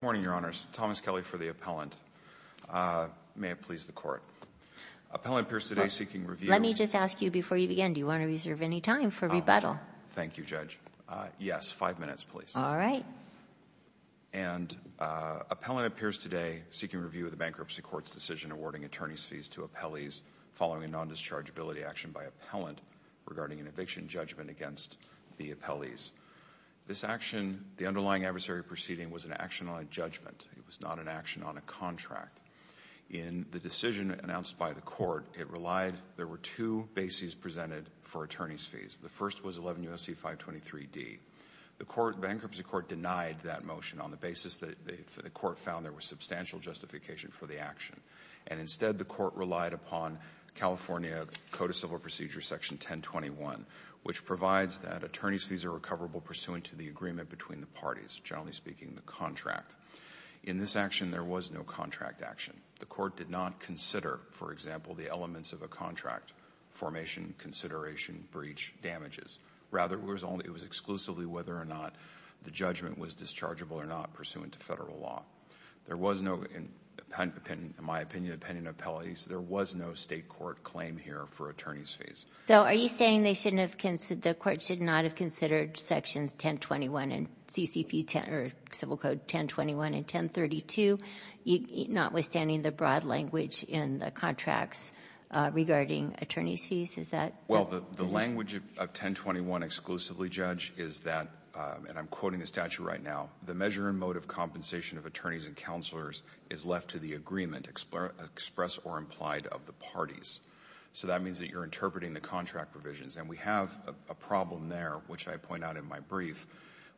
Good morning, Your Honors. Thomas Kelly for the appellant. May it please the Court. Appellant appears today seeking review... Let me just ask you before you begin, do you want to reserve any time for rebuttal? Thank you, Judge. Yes, five minutes, please. All right. Appellant appears today seeking review of the Bankruptcy Court's decision awarding attorney's fees to appellees following a non-dischargeability action by appellant regarding an eviction judgment against the appellees. This action, the underlying adversary proceeding, was an action on a judgment. It was not an action on a contract. In the decision announced by the Court, it relied... There were two bases presented for attorney's fees. The first was 11 U.S.C. 523D. The Bankruptcy Court denied that motion on the basis that the Court found there was substantial justification for the action. And instead, the Court relied upon California Code of Civil Procedure Section 1021, which provides that attorney's fees are recoverable pursuant to the agreement between the parties, generally speaking, the contract. In this action, there was no contract action. The Court did not consider, for example, the elements of a contract, formation, consideration, breach, damages. Rather, it was exclusively whether or not the judgment was dischargeable or not pursuant to federal law. There was no, in my opinion, opinion of appellees. There was no State court claim here for attorney's fees. So are you saying they shouldn't have considered, the Court should not have considered Sections 1021 and CCP 10 or Civil Code 1021 and 1032, notwithstanding the broad language in the contracts regarding attorney's fees? Is that... Well, the language of 1021 exclusively, Judge, is that, and I'm quoting the statute right now, the measure and mode of compensation of attorneys and counselors is left to the agreement expressed or implied of the parties. So that means that you're interpreting the contract provisions. And we have a problem there, which I point out in my brief,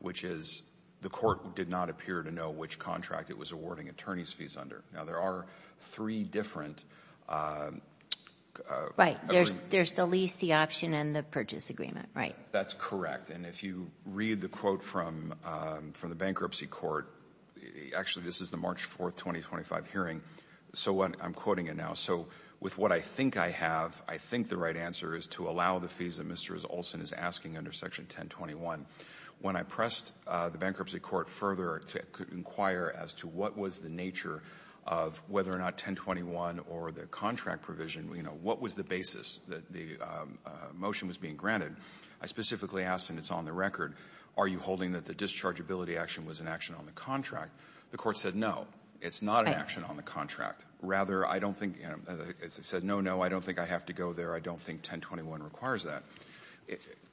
which is the Court did not appear to know which contract it was awarding attorney's fees under. Now, there are three different... Right. There's the lease, the option, and the purchase agreement. Right. That's correct. And if you read the quote from the Bankruptcy Court, actually, this is the March 4, 2025 hearing. So I'm quoting it now. So with what I think I have, I think the right answer is to allow the fees that Mr. Olson is asking under Section 1021. When I pressed the Bankruptcy Court further to inquire as to what was the nature of whether or not Section 1021 or the contract provision, you know, what was the basis that the motion was being granted, I specifically asked, and it's on the record, are you holding that the dischargeability action was an action on the contract? The Court said no, it's not an action on the contract. Rather, I don't think, as I said, no, no, I don't think I have to go there. I don't think 1021 requires that.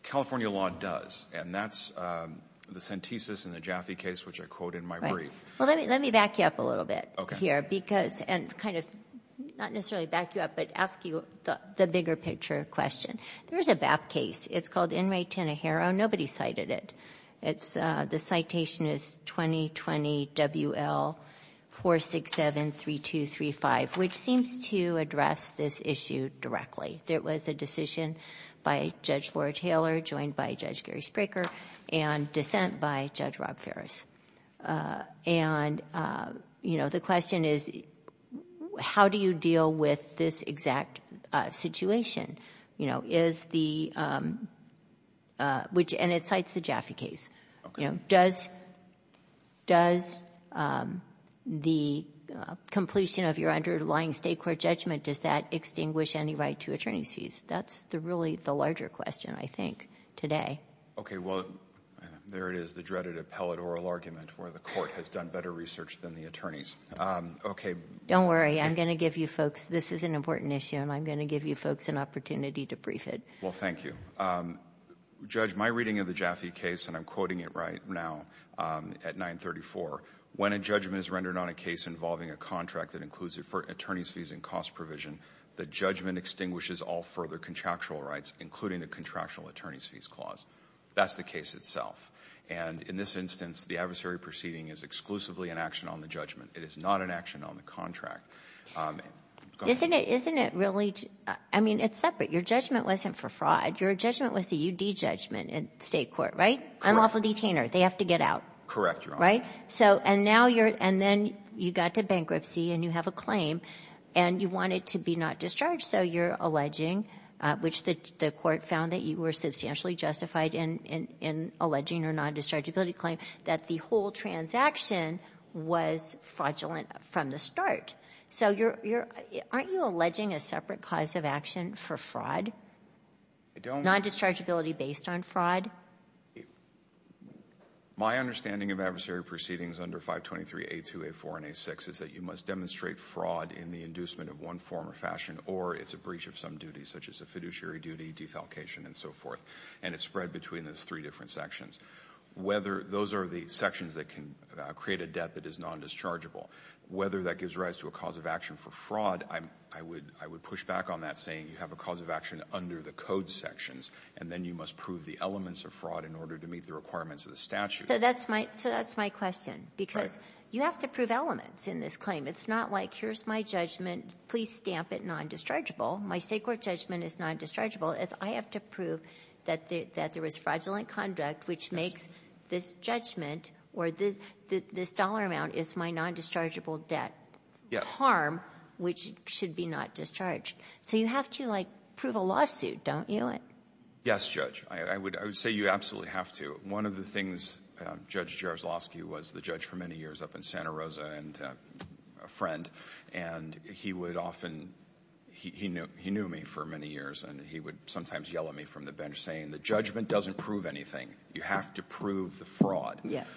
California law does. And that's the Sentesis and the Jaffe case, which I quote in my brief. Well, let me back you up a little bit here, because, and kind of not necessarily back you up, but ask you the bigger picture question. There is a BAP case. It's called In re Tenejero. Nobody cited it. It's the citation is 2020 WL 467-3235, which seems to address this issue directly. There was a decision by Judge Laura Taylor, joined by Judge Gary Spraker, and dissent by Judge Rob Ferris. And, you know, the question is, how do you deal with this exact situation? You know, is the — and it cites the Jaffe case. You know, does the completion of your underlying State court judgment, does that address the question of attorneys' fees? That's really the larger question, I think, today. Okay. Well, there it is, the dreaded appellate oral argument where the court has done better research than the attorneys. Okay. Don't worry. I'm going to give you folks — this is an important issue, and I'm going to give you folks an opportunity to brief it. Well, thank you. Judge, my reading of the Jaffe case, and I'm quoting it right now at 934, when a judgment is rendered on a case involving a contract that includes attorneys' fees and cost provision, the judgment extinguishes all further contractual rights, including the contractual attorneys' fees clause. That's the case itself. And in this instance, the adversary proceeding is exclusively an action on the judgment. It is not an action on the contract. Isn't it — isn't it really — I mean, it's separate. Your judgment wasn't for fraud. Your judgment was a UD judgment in State court, right? Correct. Unlawful detainer. They have to get out. Correct, Your Honor. Right? So — and now you're — and then you got to bankruptcy and you have a claim and you want it to be not discharged, so you're alleging, which the court found that you were substantially justified in — in alleging or non-dischargeability claim, that the whole transaction was fraudulent from the start. So you're — aren't you alleging a separate cause of action for fraud? I don't — Non-dischargeability based on fraud? My understanding of adversary proceedings under 523A2, A4, and A6 is that you must demonstrate fraud in the inducement of one form or fashion, or it's a breach of some duties, such as a fiduciary duty, defalcation, and so forth. And it's spread between those three different sections. Whether — those are the sections that can create a debt that is non-dischargeable. Whether that gives rise to a cause of action for fraud, I would — I would push back on that, saying you have a cause of action under the code sections, and then you must prove the elements of fraud in order to meet the requirements of the statute. So that's my — so that's my question, because you have to prove elements in this claim. It's not like, here's my judgment, please stamp it non-dischargeable. My State court judgment is non-dischargeable, as I have to prove that the — that there was fraudulent conduct, which makes this judgment or this — this dollar amount is my non-dischargeable debt harm, which should be not discharged. So you have to, like, prove a lawsuit, don't you? Yes, Judge. I would — I would say you absolutely have to. One of the things Judge Jaroslawski was the judge for many years up in Santa Rosa and a friend, and he would often — he knew me for many years, and he would sometimes yell at me from the bench, saying the judgment doesn't prove anything. You have to prove the fraud. Yes.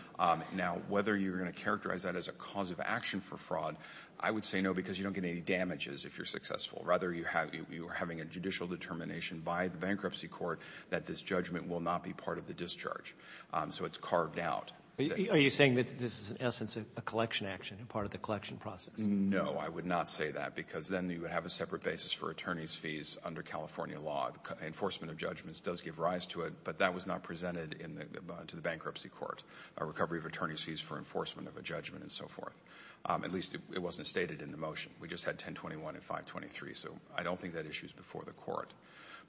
Now, whether you're going to characterize that as a cause of action for fraud, I would say no, because you don't get any damages if you're successful. Rather, you have — you are having a judicial determination by the bankruptcy court that this judgment will not be part of the discharge. So it's carved out. Are you saying that this is, in essence, a collection action, part of the collection process? No, I would not say that, because then you would have a separate basis for attorney's fees under California law. Enforcement of judgments does give rise to it, but that was not presented in the — to the bankruptcy court, a recovery of attorney's fees for enforcement of a judgment and so forth. At least it wasn't stated in the motion. We just had 1021 and 523. So I don't think that issue is before the Court.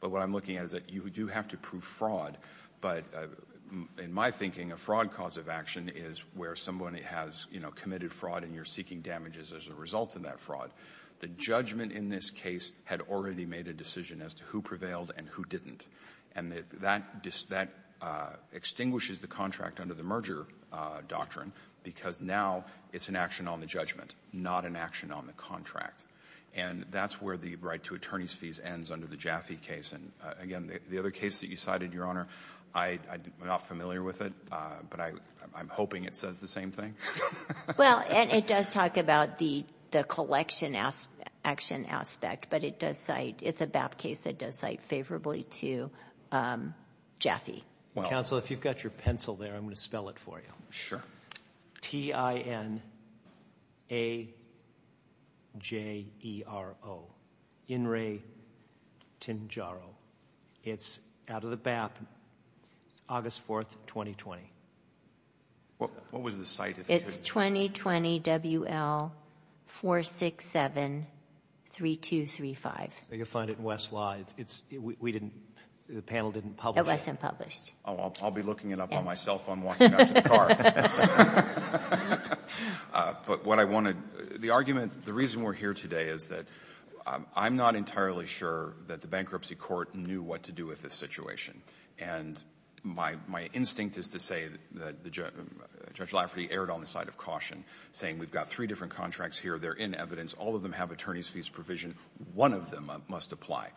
But what I'm looking at is that you do have to prove fraud, but in my thinking, a fraud cause of action is where someone has, you know, committed fraud and you're seeking damages as a result of that fraud. The judgment in this case had already made a decision as to who prevailed and who didn't. And that — that extinguishes the contract under the merger doctrine, because now it's an action on the judgment, not an action on the contract. And that's where the right to attorney's fees ends under the Jaffe case. And, again, the other case that you cited, Your Honor, I'm not familiar with it, but I'm hoping it says the same thing. Well, and it does talk about the collection action aspect, but it does cite — it's a BAP case that does cite favorably to Jaffe. Counsel, if you've got your pencil there, I'm going to spell it for you. Sure. T-I-N-A-J-E-R-O. In re tenjaro. It's out of the BAP, August 4th, 2020. What was the site? It's 2020 WL 467-3235. You'll find it in Westlaw. It's — we didn't — the panel didn't publish it. It wasn't published. Oh, I'll be looking it up on my cell phone walking out to the car. But what I want to — the argument — the reason we're here today is that I'm not entirely sure that the bankruptcy court knew what to do with this situation. And my instinct is to say that Judge Lafferty erred on the side of caution, saying we've got three different contracts here. They're in evidence. All of them have attorney's fees provision. One of them must apply.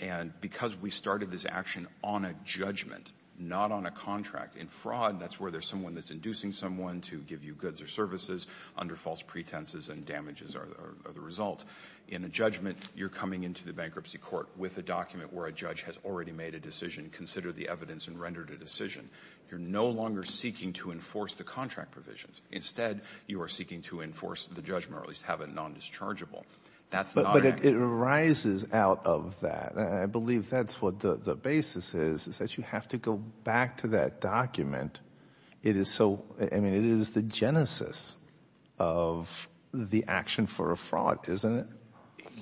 And because we started this action on a judgment, not on a contract. In fraud, that's where there's someone that's inducing someone to give you goods or services under false pretenses, and damages are the result. In a judgment, you're coming into the bankruptcy court with a document where a judge has already made a decision, considered the evidence, and rendered a decision. You're no longer seeking to enforce the contract provisions. Instead, you are seeking to enforce the judgment, or at least have it nondischargeable. That's not an action. I believe that's what the basis is, is that you have to go back to that document. It is so — I mean, it is the genesis of the action for a fraud, isn't it?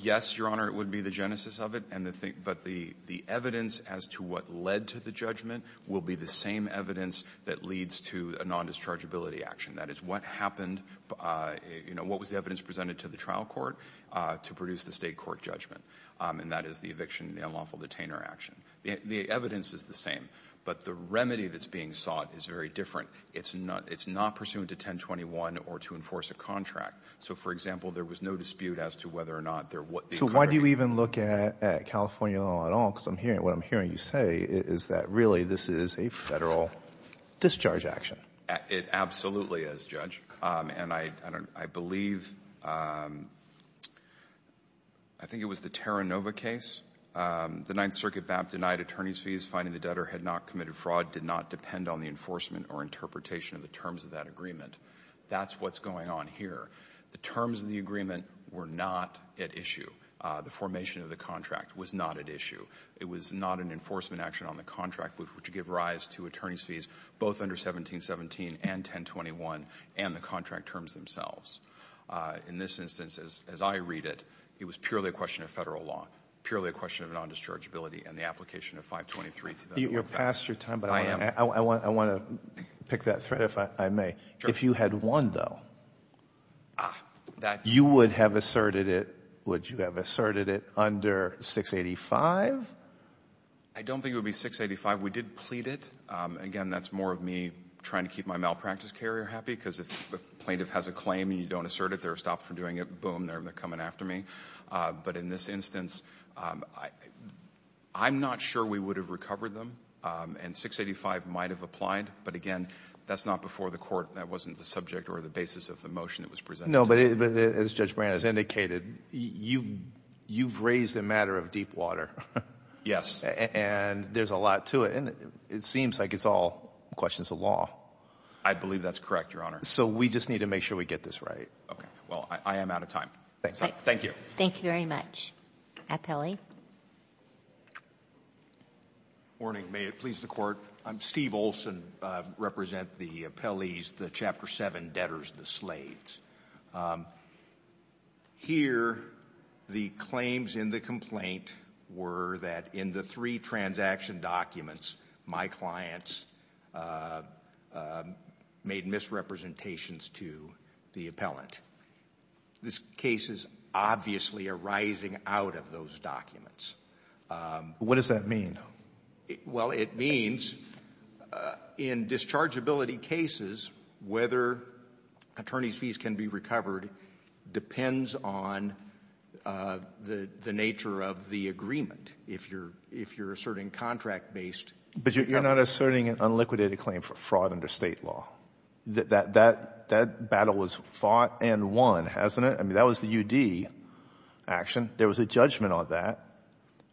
Yes, Your Honor, it would be the genesis of it. And the thing — but the evidence as to what led to the judgment will be the same evidence that leads to a nondischargeability action. That is, what happened — you know, what was the evidence presented to the trial court to produce the State court judgment? And that is the eviction and the unlawful detainer action. The evidence is the same. But the remedy that's being sought is very different. It's not — it's not pursuant to 1021 or to enforce a contract. So, for example, there was no dispute as to whether or not there were — So why do you even look at California law at all? Because I'm hearing — what I'm hearing you say is that, really, this is a Federal discharge action. It absolutely is, Judge. And I believe — I think it was the Terranova case. The Ninth Circuit map denied attorneys' fees. Finding the debtor had not committed fraud did not depend on the enforcement or interpretation of the terms of that agreement. That's what's going on here. The terms of the agreement were not at issue. The formation of the contract was not at issue. It was not an enforcement action on the contract, which would give rise to attorneys' and the contract terms themselves. In this instance, as I read it, it was purely a question of Federal law, purely a question of non-dischargeability and the application of 523. You're past your time. I am. But I want to pick that thread, if I may. Sure. If you had won, though, you would have asserted it — would you have asserted it under 685? I don't think it would be 685. We did plead it. Again, that's more of me trying to keep my malpractice carrier happy, because if a plaintiff has a claim and you don't assert it, they're stopped from doing it, boom, they're coming after me. But in this instance, I'm not sure we would have recovered them. And 685 might have applied. But again, that's not before the Court. That wasn't the subject or the basis of the motion that was presented. No, but as Judge Brand has indicated, you've raised the matter of Deepwater. Yes. And there's a lot to it. And it seems like it's all questions of law. I believe that's correct, Your Honor. So we just need to make sure we get this right. Okay. Well, I am out of time. Thank you. Thank you very much. Morning. May it please the Court. I'm Steve Olson. I represent the appellees, the Chapter 7 debtors, the slaves. Here, the claims in the complaint were that in the three transaction documents, my clients made misrepresentations to the appellant. This case is obviously arising out of those documents. What does that mean? Well, it means in dischargeability cases, whether attorney's fees can be recovered depends on the nature of the agreement, if you're asserting contract-based recovery. But you're not asserting an unliquidated claim for fraud under State law. That battle was fought and won, hasn't it? I mean, that was the U.D. action. There was a judgment on that.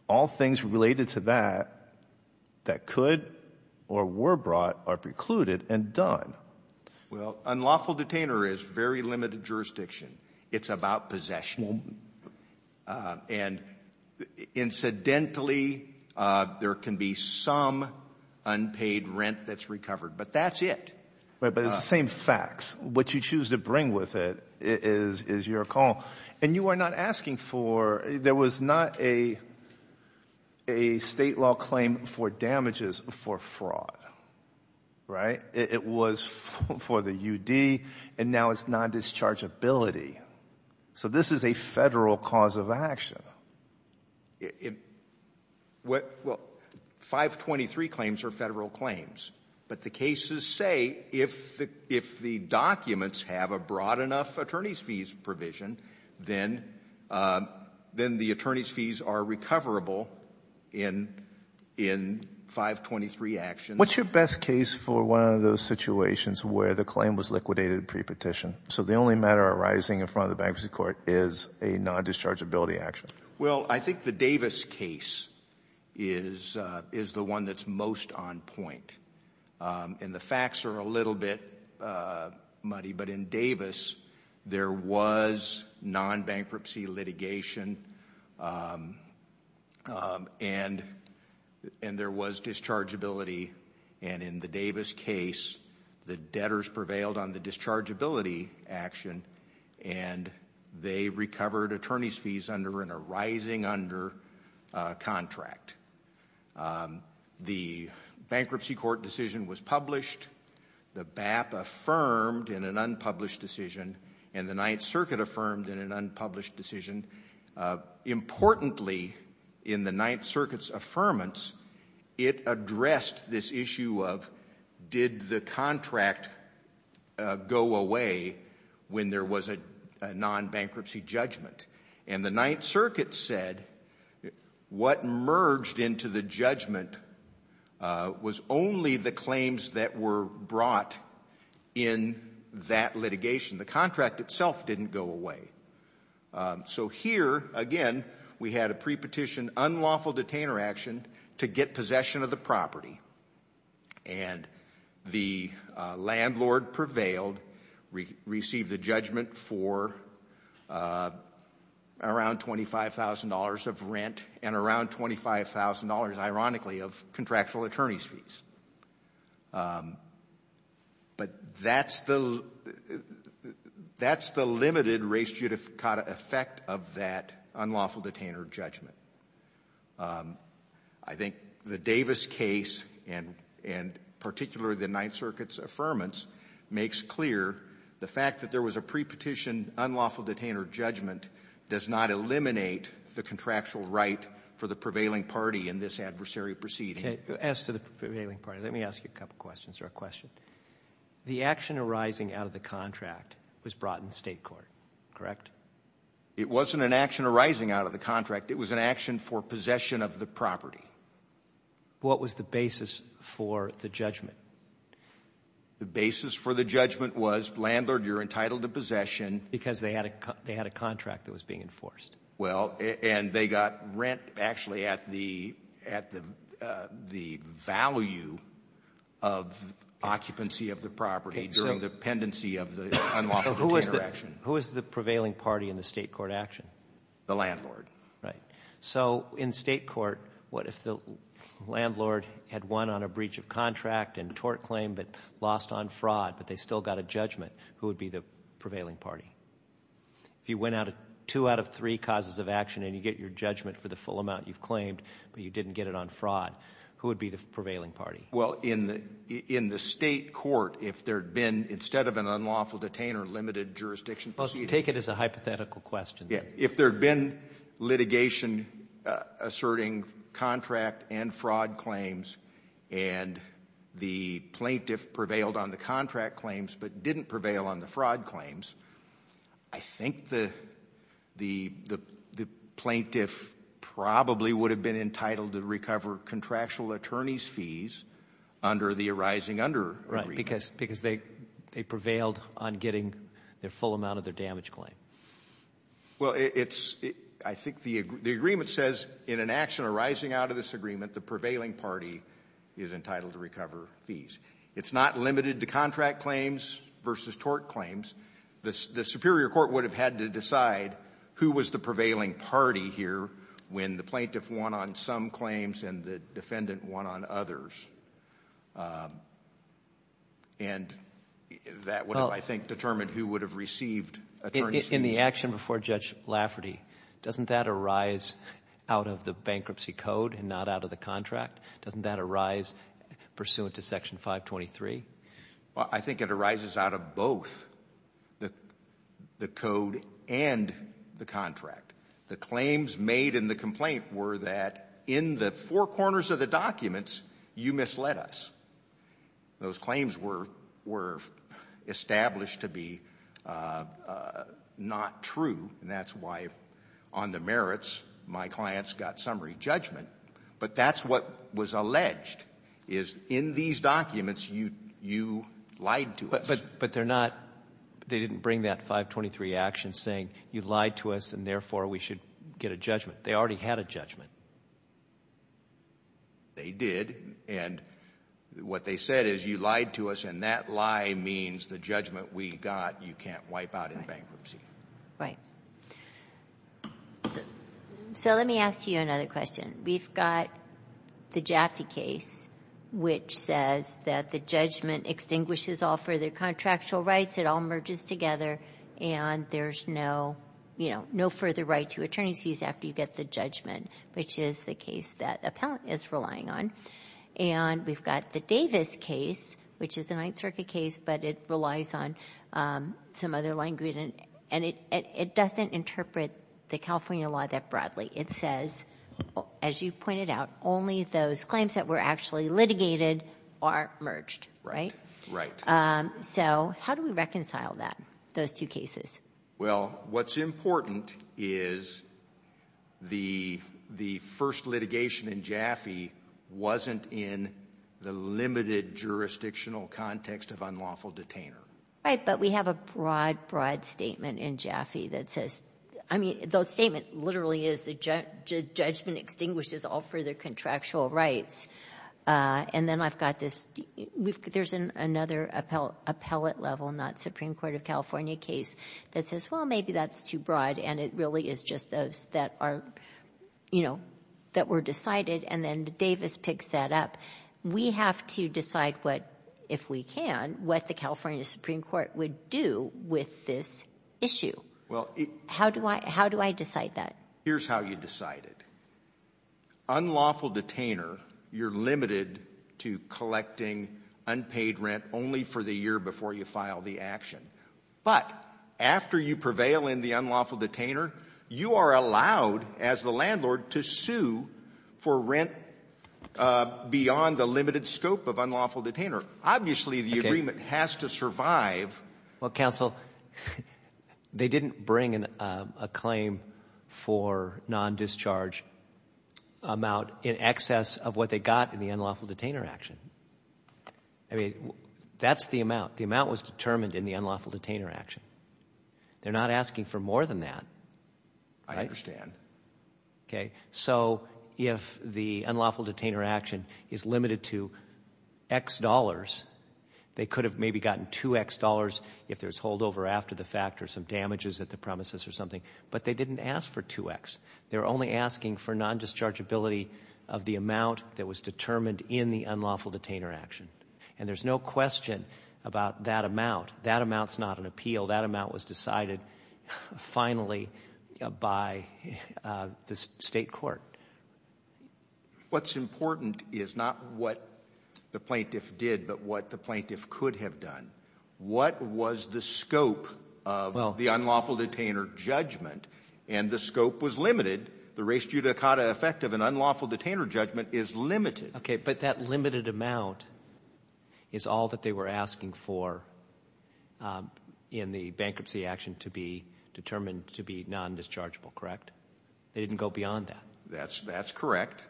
All things related to that that could or were brought are precluded and done. Well, unlawful detainer is very limited jurisdiction. It's about possession. And incidentally, there can be some unpaid rent that's recovered. But that's it. But it's the same facts. What you choose to bring with it is your call. And you are not asking for ñ there was not a State law claim for damages for fraud. Right? It was for the U.D., and now it's non-dischargeability. So this is a Federal cause of action. Well, 523 claims are Federal claims. But the cases say if the documents have a broad enough attorney's fees provision, then the attorney's fees are recoverable in 523 actions. What's your best case for one of those situations where the claim was liquidated prepetition? So the only matter arising in front of the bankruptcy court is a non-dischargeability action. Well, I think the Davis case is the one that's most on point. And the facts are a little bit muddy. But in Davis, there was non-bankruptcy litigation, and there was dischargeability. And in the Davis case, the debtors prevailed on the dischargeability action, and they recovered attorney's fees under an arising under contract. The bankruptcy court decision was published. The BAP affirmed in an unpublished decision, and the Ninth Circuit affirmed in an unpublished decision. Importantly, in the Ninth Circuit's affirmance, it addressed this issue of did the contract go away when there was a non-bankruptcy judgment. And the Ninth Circuit said what merged into the judgment was only the claims that were brought in that litigation. The contract itself didn't go away. So here, again, we had a prepetition unlawful detainer action to get possession of the property. And the landlord prevailed, received the judgment for around $25,000 of rent and around $25,000, ironically, of contractual attorney's fees. But that's the limited res judicata effect of that unlawful detainer judgment. I think the Davis case, and particularly the Ninth Circuit's affirmance, makes clear the fact that there was a prepetition unlawful detainer judgment does not eliminate the contractual right for the prevailing party in this adversary proceeding. As to the prevailing party, let me ask you a couple questions or a question. The action arising out of the contract was brought in state court, correct? It wasn't an action arising out of the contract. It was an action for possession of the property. What was the basis for the judgment? The basis for the judgment was, landlord, you're entitled to possession. Because they had a contract that was being enforced. Well, and they got rent actually at the value of occupancy of the property during the pendency of the unlawful detainer action. Who was the prevailing party in the state court action? The landlord. Right. So in state court, what if the landlord had won on a breach of contract and tort claim but lost on fraud, but they still got a judgment? Who would be the prevailing party? If you went out of two out of three causes of action and you get your judgment for the full amount you've claimed, but you didn't get it on fraud, who would be the prevailing party? Well, in the state court, if there had been, instead of an unlawful detainer, limited jurisdiction proceeding. Well, take it as a hypothetical question. If there had been litigation asserting contract and fraud claims and the plaintiff prevailed on the contract claims but didn't prevail on the fraud claims, I think the plaintiff probably would have been entitled to recover contractual attorney's fees under the arising under agreement. Because they prevailed on getting their full amount of their damage claim. Well, it's, I think the agreement says in an action arising out of this agreement, the prevailing party is entitled to recover fees. It's not limited to contract claims versus tort claims. The superior court would have had to decide who was the prevailing party here when the plaintiff won on some claims and the defendant won on others. And that would have, I think, determined who would have received attorney's In the action before Judge Lafferty, doesn't that arise out of the bankruptcy code and not out of the contract? Doesn't that arise pursuant to Section 523? Well, I think it arises out of both the code and the contract. The claims made in the complaint were that in the four corners of the documents you misled us. Those claims were established to be not true. And that's why on the merits my clients got summary judgment. But that's what was alleged is in these documents you lied to us. But they're not, they didn't bring that 523 action saying you lied to us and therefore we should get a judgment. They already had a judgment. They did. And what they said is you lied to us and that lie means the judgment we got you can't wipe out in bankruptcy. Right. So let me ask you another question. We've got the Jaffee case which says that the judgment extinguishes all further contractual rights. It all merges together and there's no further right to attorney's fees after you get the judgment which is the case that the appellant is relying on. And we've got the Davis case which is a Ninth Circuit case but it relies on some other language and it doesn't interpret the California law that broadly. It says, as you pointed out, only those claims that were actually litigated are merged. Right? Right. So how do we reconcile that, those two cases? Well, what's important is the first litigation in Jaffee wasn't in the limited jurisdictional context of unlawful detainer. Right, but we have a broad, broad statement in Jaffee that says, I mean, the statement literally is the judgment extinguishes all further contractual rights. And then I've got this — there's another appellate level, not Supreme Court of California case, that says, well, maybe that's too broad and it really is just those that are, you know, that were decided and then the Davis picks that up. We have to decide what, if we can, what the California Supreme Court would do with this issue. Well, it — How do I — how do I decide that? Here's how you decide it. Unlawful detainer, you're limited to collecting unpaid rent only for the year before you file the action. But after you prevail in the unlawful detainer, you are allowed, as the landlord, to sue for rent beyond the limited scope of unlawful detainer. Obviously, the agreement has to survive. Well, counsel, they didn't bring a claim for non-discharge amount in excess of what they got in the unlawful detainer action. I mean, that's the amount. The amount was determined in the unlawful detainer action. They're not asking for more than that. I understand. Okay. So if the unlawful detainer action is limited to X dollars, they could have maybe gotten 2X dollars if there's holdover after the fact or some damages at the premises or something. But they didn't ask for 2X. They're only asking for non-dischargeability of the amount that was determined in the unlawful detainer action. And there's no question about that amount. That amount's not an appeal. That amount was decided finally by the State court. What's important is not what the plaintiff did but what the plaintiff could have done. What was the scope of the unlawful detainer judgment? And the scope was limited. The res judicata effect of an unlawful detainer judgment is limited. Okay, but that limited amount is all that they were asking for in the bankruptcy action to be determined to be non-dischargeable, correct? They didn't go beyond that. That's correct.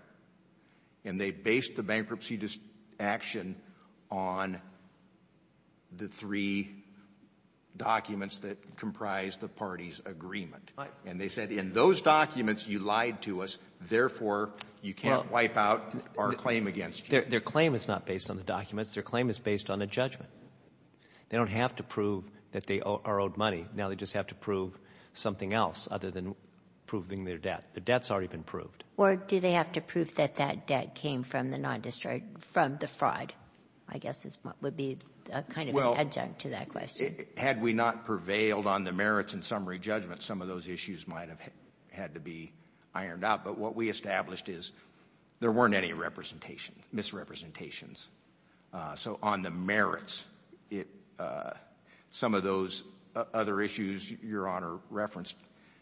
And they based the bankruptcy action on the three documents that comprise the party's agreement. Right. And they said in those documents you lied to us, therefore, you can't wipe out our claim against you. Their claim is not based on the documents. Their claim is based on a judgment. They don't have to prove that they are owed money. Now they just have to prove something else other than proving their debt. Their debt's already been proved. Or do they have to prove that that debt came from the fraud, I guess would be kind of an adjunct to that question. Had we not prevailed on the merits and summary judgment, some of those issues might have had to be ironed out. But what we established is there weren't any misrepresentations. So on the merits, some of those other issues Your Honor referenced,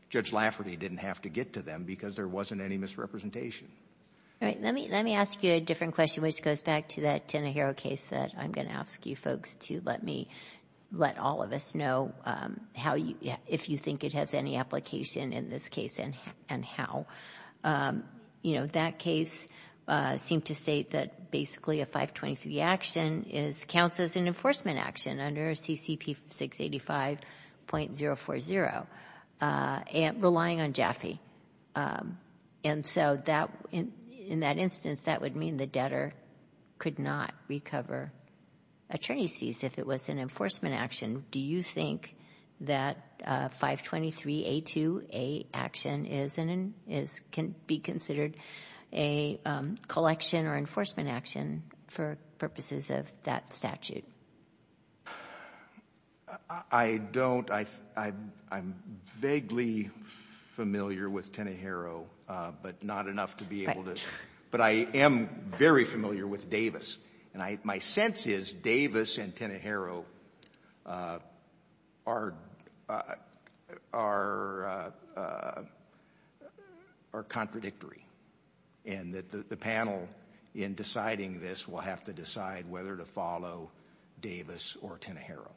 Judge Lafferty didn't have to get to them because there wasn't any misrepresentation. All right. Let me ask you a different question, which goes back to that Tenohiro case that I'm going to ask you folks to let me let all of us know how you – if you think it has any application in this case and how. You know, that case seemed to state that basically a 523 action counts as an enforcement action under CCP 685.040, relying on Jaffe. And so in that instance, that would mean the debtor could not recover attorney's fees if it was an enforcement action. Do you think that 523A2A action is – can be considered a collection or enforcement action for purposes of that statute? I don't. I'm vaguely familiar with Tenohiro, but not enough to be able to – but I am very familiar with Davis. And my sense is Davis and Tenohiro are contradictory and that the panel in deciding this will have to decide whether to follow Davis or Tenohiro.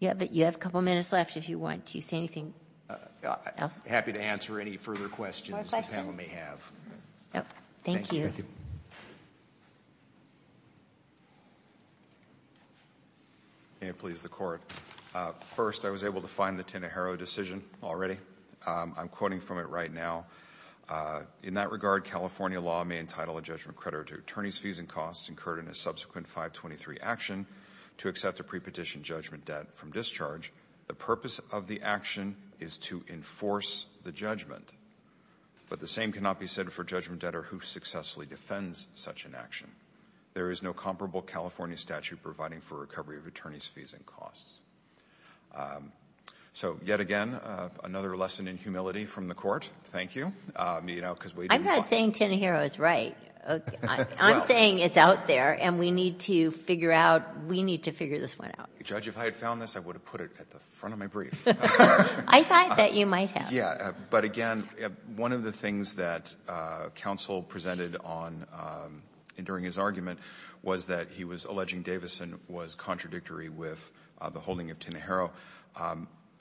Yeah, but you have a couple minutes left if you want to say anything else. I'm happy to answer any further questions the panel may have. Thank you. May it please the Court. First, I was able to find the Tenohiro decision already. I'm quoting from it right now. In that regard, California law may entitle a judgment creditor to attorney's fees and costs incurred in a subsequent 523 action to accept a pre-petition judgment debt from discharge. The purpose of the action is to enforce the judgment, but the same cannot be said for judgment debtor who successfully defends such an action. There is no comparable California statute providing for recovery of attorney's fees and costs. So yet again, another lesson in humility from the Court. Thank you. I'm not saying Tenohiro is right. I'm saying it's out there and we need to figure out – we need to figure this one out. Judge, if I had found this, I would have put it at the front of my brief. I thought that you might have. But again, one of the things that counsel presented during his argument was that he was alleging Davison was contradictory with the holding of Tenohiro.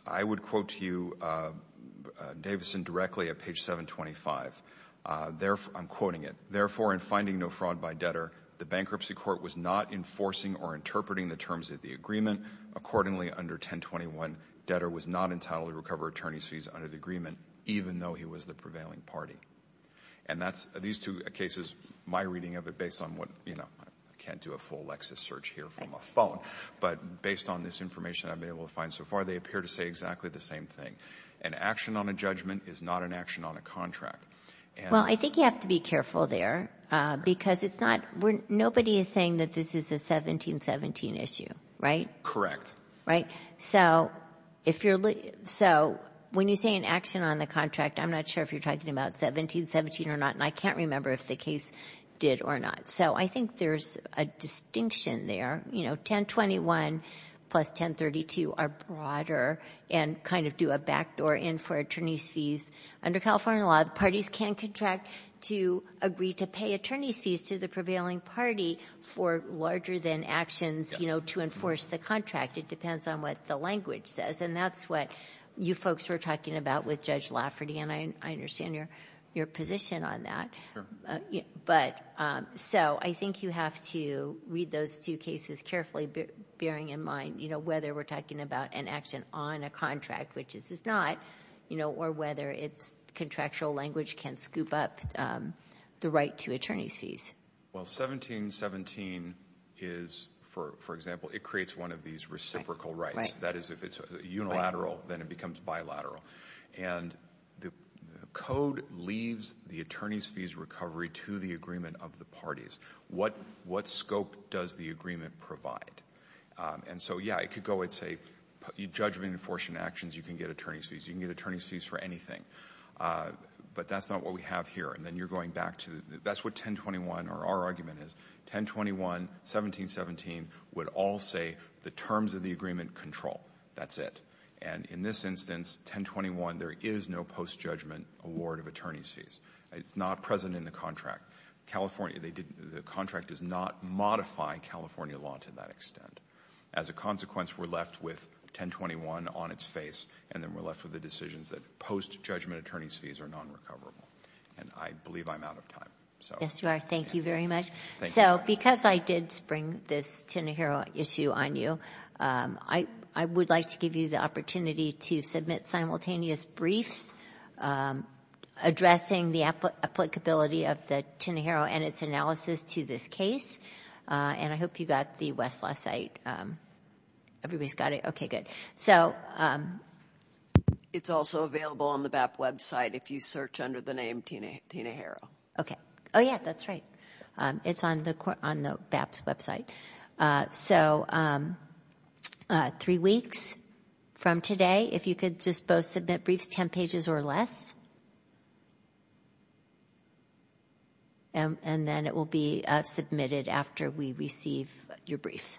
I would quote to you Davison directly at page 725. I'm quoting it. Therefore, in finding no fraud by debtor, the bankruptcy court was not enforcing or interpreting the terms of the agreement. Accordingly, under 1021, debtor was not entitled to recover attorney's fees under the agreement, even though he was the prevailing party. And that's – these two cases, my reading of it based on what – you know, I can't do a full Lexis search here from a phone. But based on this information I've been able to find so far, they appear to say exactly the same thing. An action on a judgment is not an action on a contract. Well, I think you have to be careful there because it's not – nobody is saying that this is a 1717 issue, right? Right? So if you're – so when you say an action on the contract, I'm not sure if you're talking about 1717 or not, and I can't remember if the case did or not. So I think there's a distinction there. You know, 1021 plus 1032 are broader and kind of do a backdoor in for attorney's fees. Under California law, the parties can contract to agree to pay attorney's fees to the actions, you know, to enforce the contract. It depends on what the language says. And that's what you folks were talking about with Judge Lafferty, and I understand your position on that. Sure. But – so I think you have to read those two cases carefully, bearing in mind, you know, whether we're talking about an action on a contract, which this is not, you know, or whether its contractual language can scoop up the right to attorney's fees. Well, 1717 is – for example, it creates one of these reciprocal rights. That is, if it's unilateral, then it becomes bilateral. And the code leaves the attorney's fees recovery to the agreement of the parties. What scope does the agreement provide? And so, yeah, it could go and say, you judge me in enforcing actions, you can get attorney's fees. You can get attorney's fees for anything. But that's not what we have here. And then you're going back to – that's what 1021 or our argument is. 1021, 1717 would all say the terms of the agreement control. That's it. And in this instance, 1021, there is no post-judgment award of attorney's It's not present in the contract. California, they didn't – the contract does not modify California law to that extent. As a consequence, we're left with 1021 on its face, and then we're left with the decisions that post-judgment attorney's fees are nonrecoverable. And I believe I'm out of time. Yes, you are. Thank you very much. Thank you. So because I did bring this Tenohiro issue on you, I would like to give you the opportunity to submit simultaneous briefs addressing the applicability of the Tenohiro and its analysis to this case. And I hope you got the Westlaw site. Everybody's got it? Okay, good. It's also available on the BAP website if you search under the name Tenohiro. Okay. Oh, yeah, that's right. It's on the BAP's website. So three weeks from today, if you could just both submit briefs, 10 pages or less. And then it will be submitted after we receive your briefs.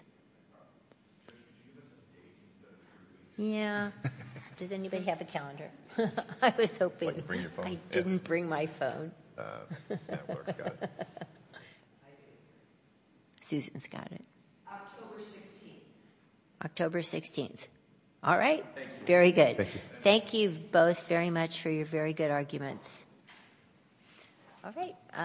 Yeah. Does anybody have a calendar? I was hoping. I didn't bring my phone. Susan's got it. October 16th. October 16th. All right. Very good. Thank you both very much for your very good arguments. All right.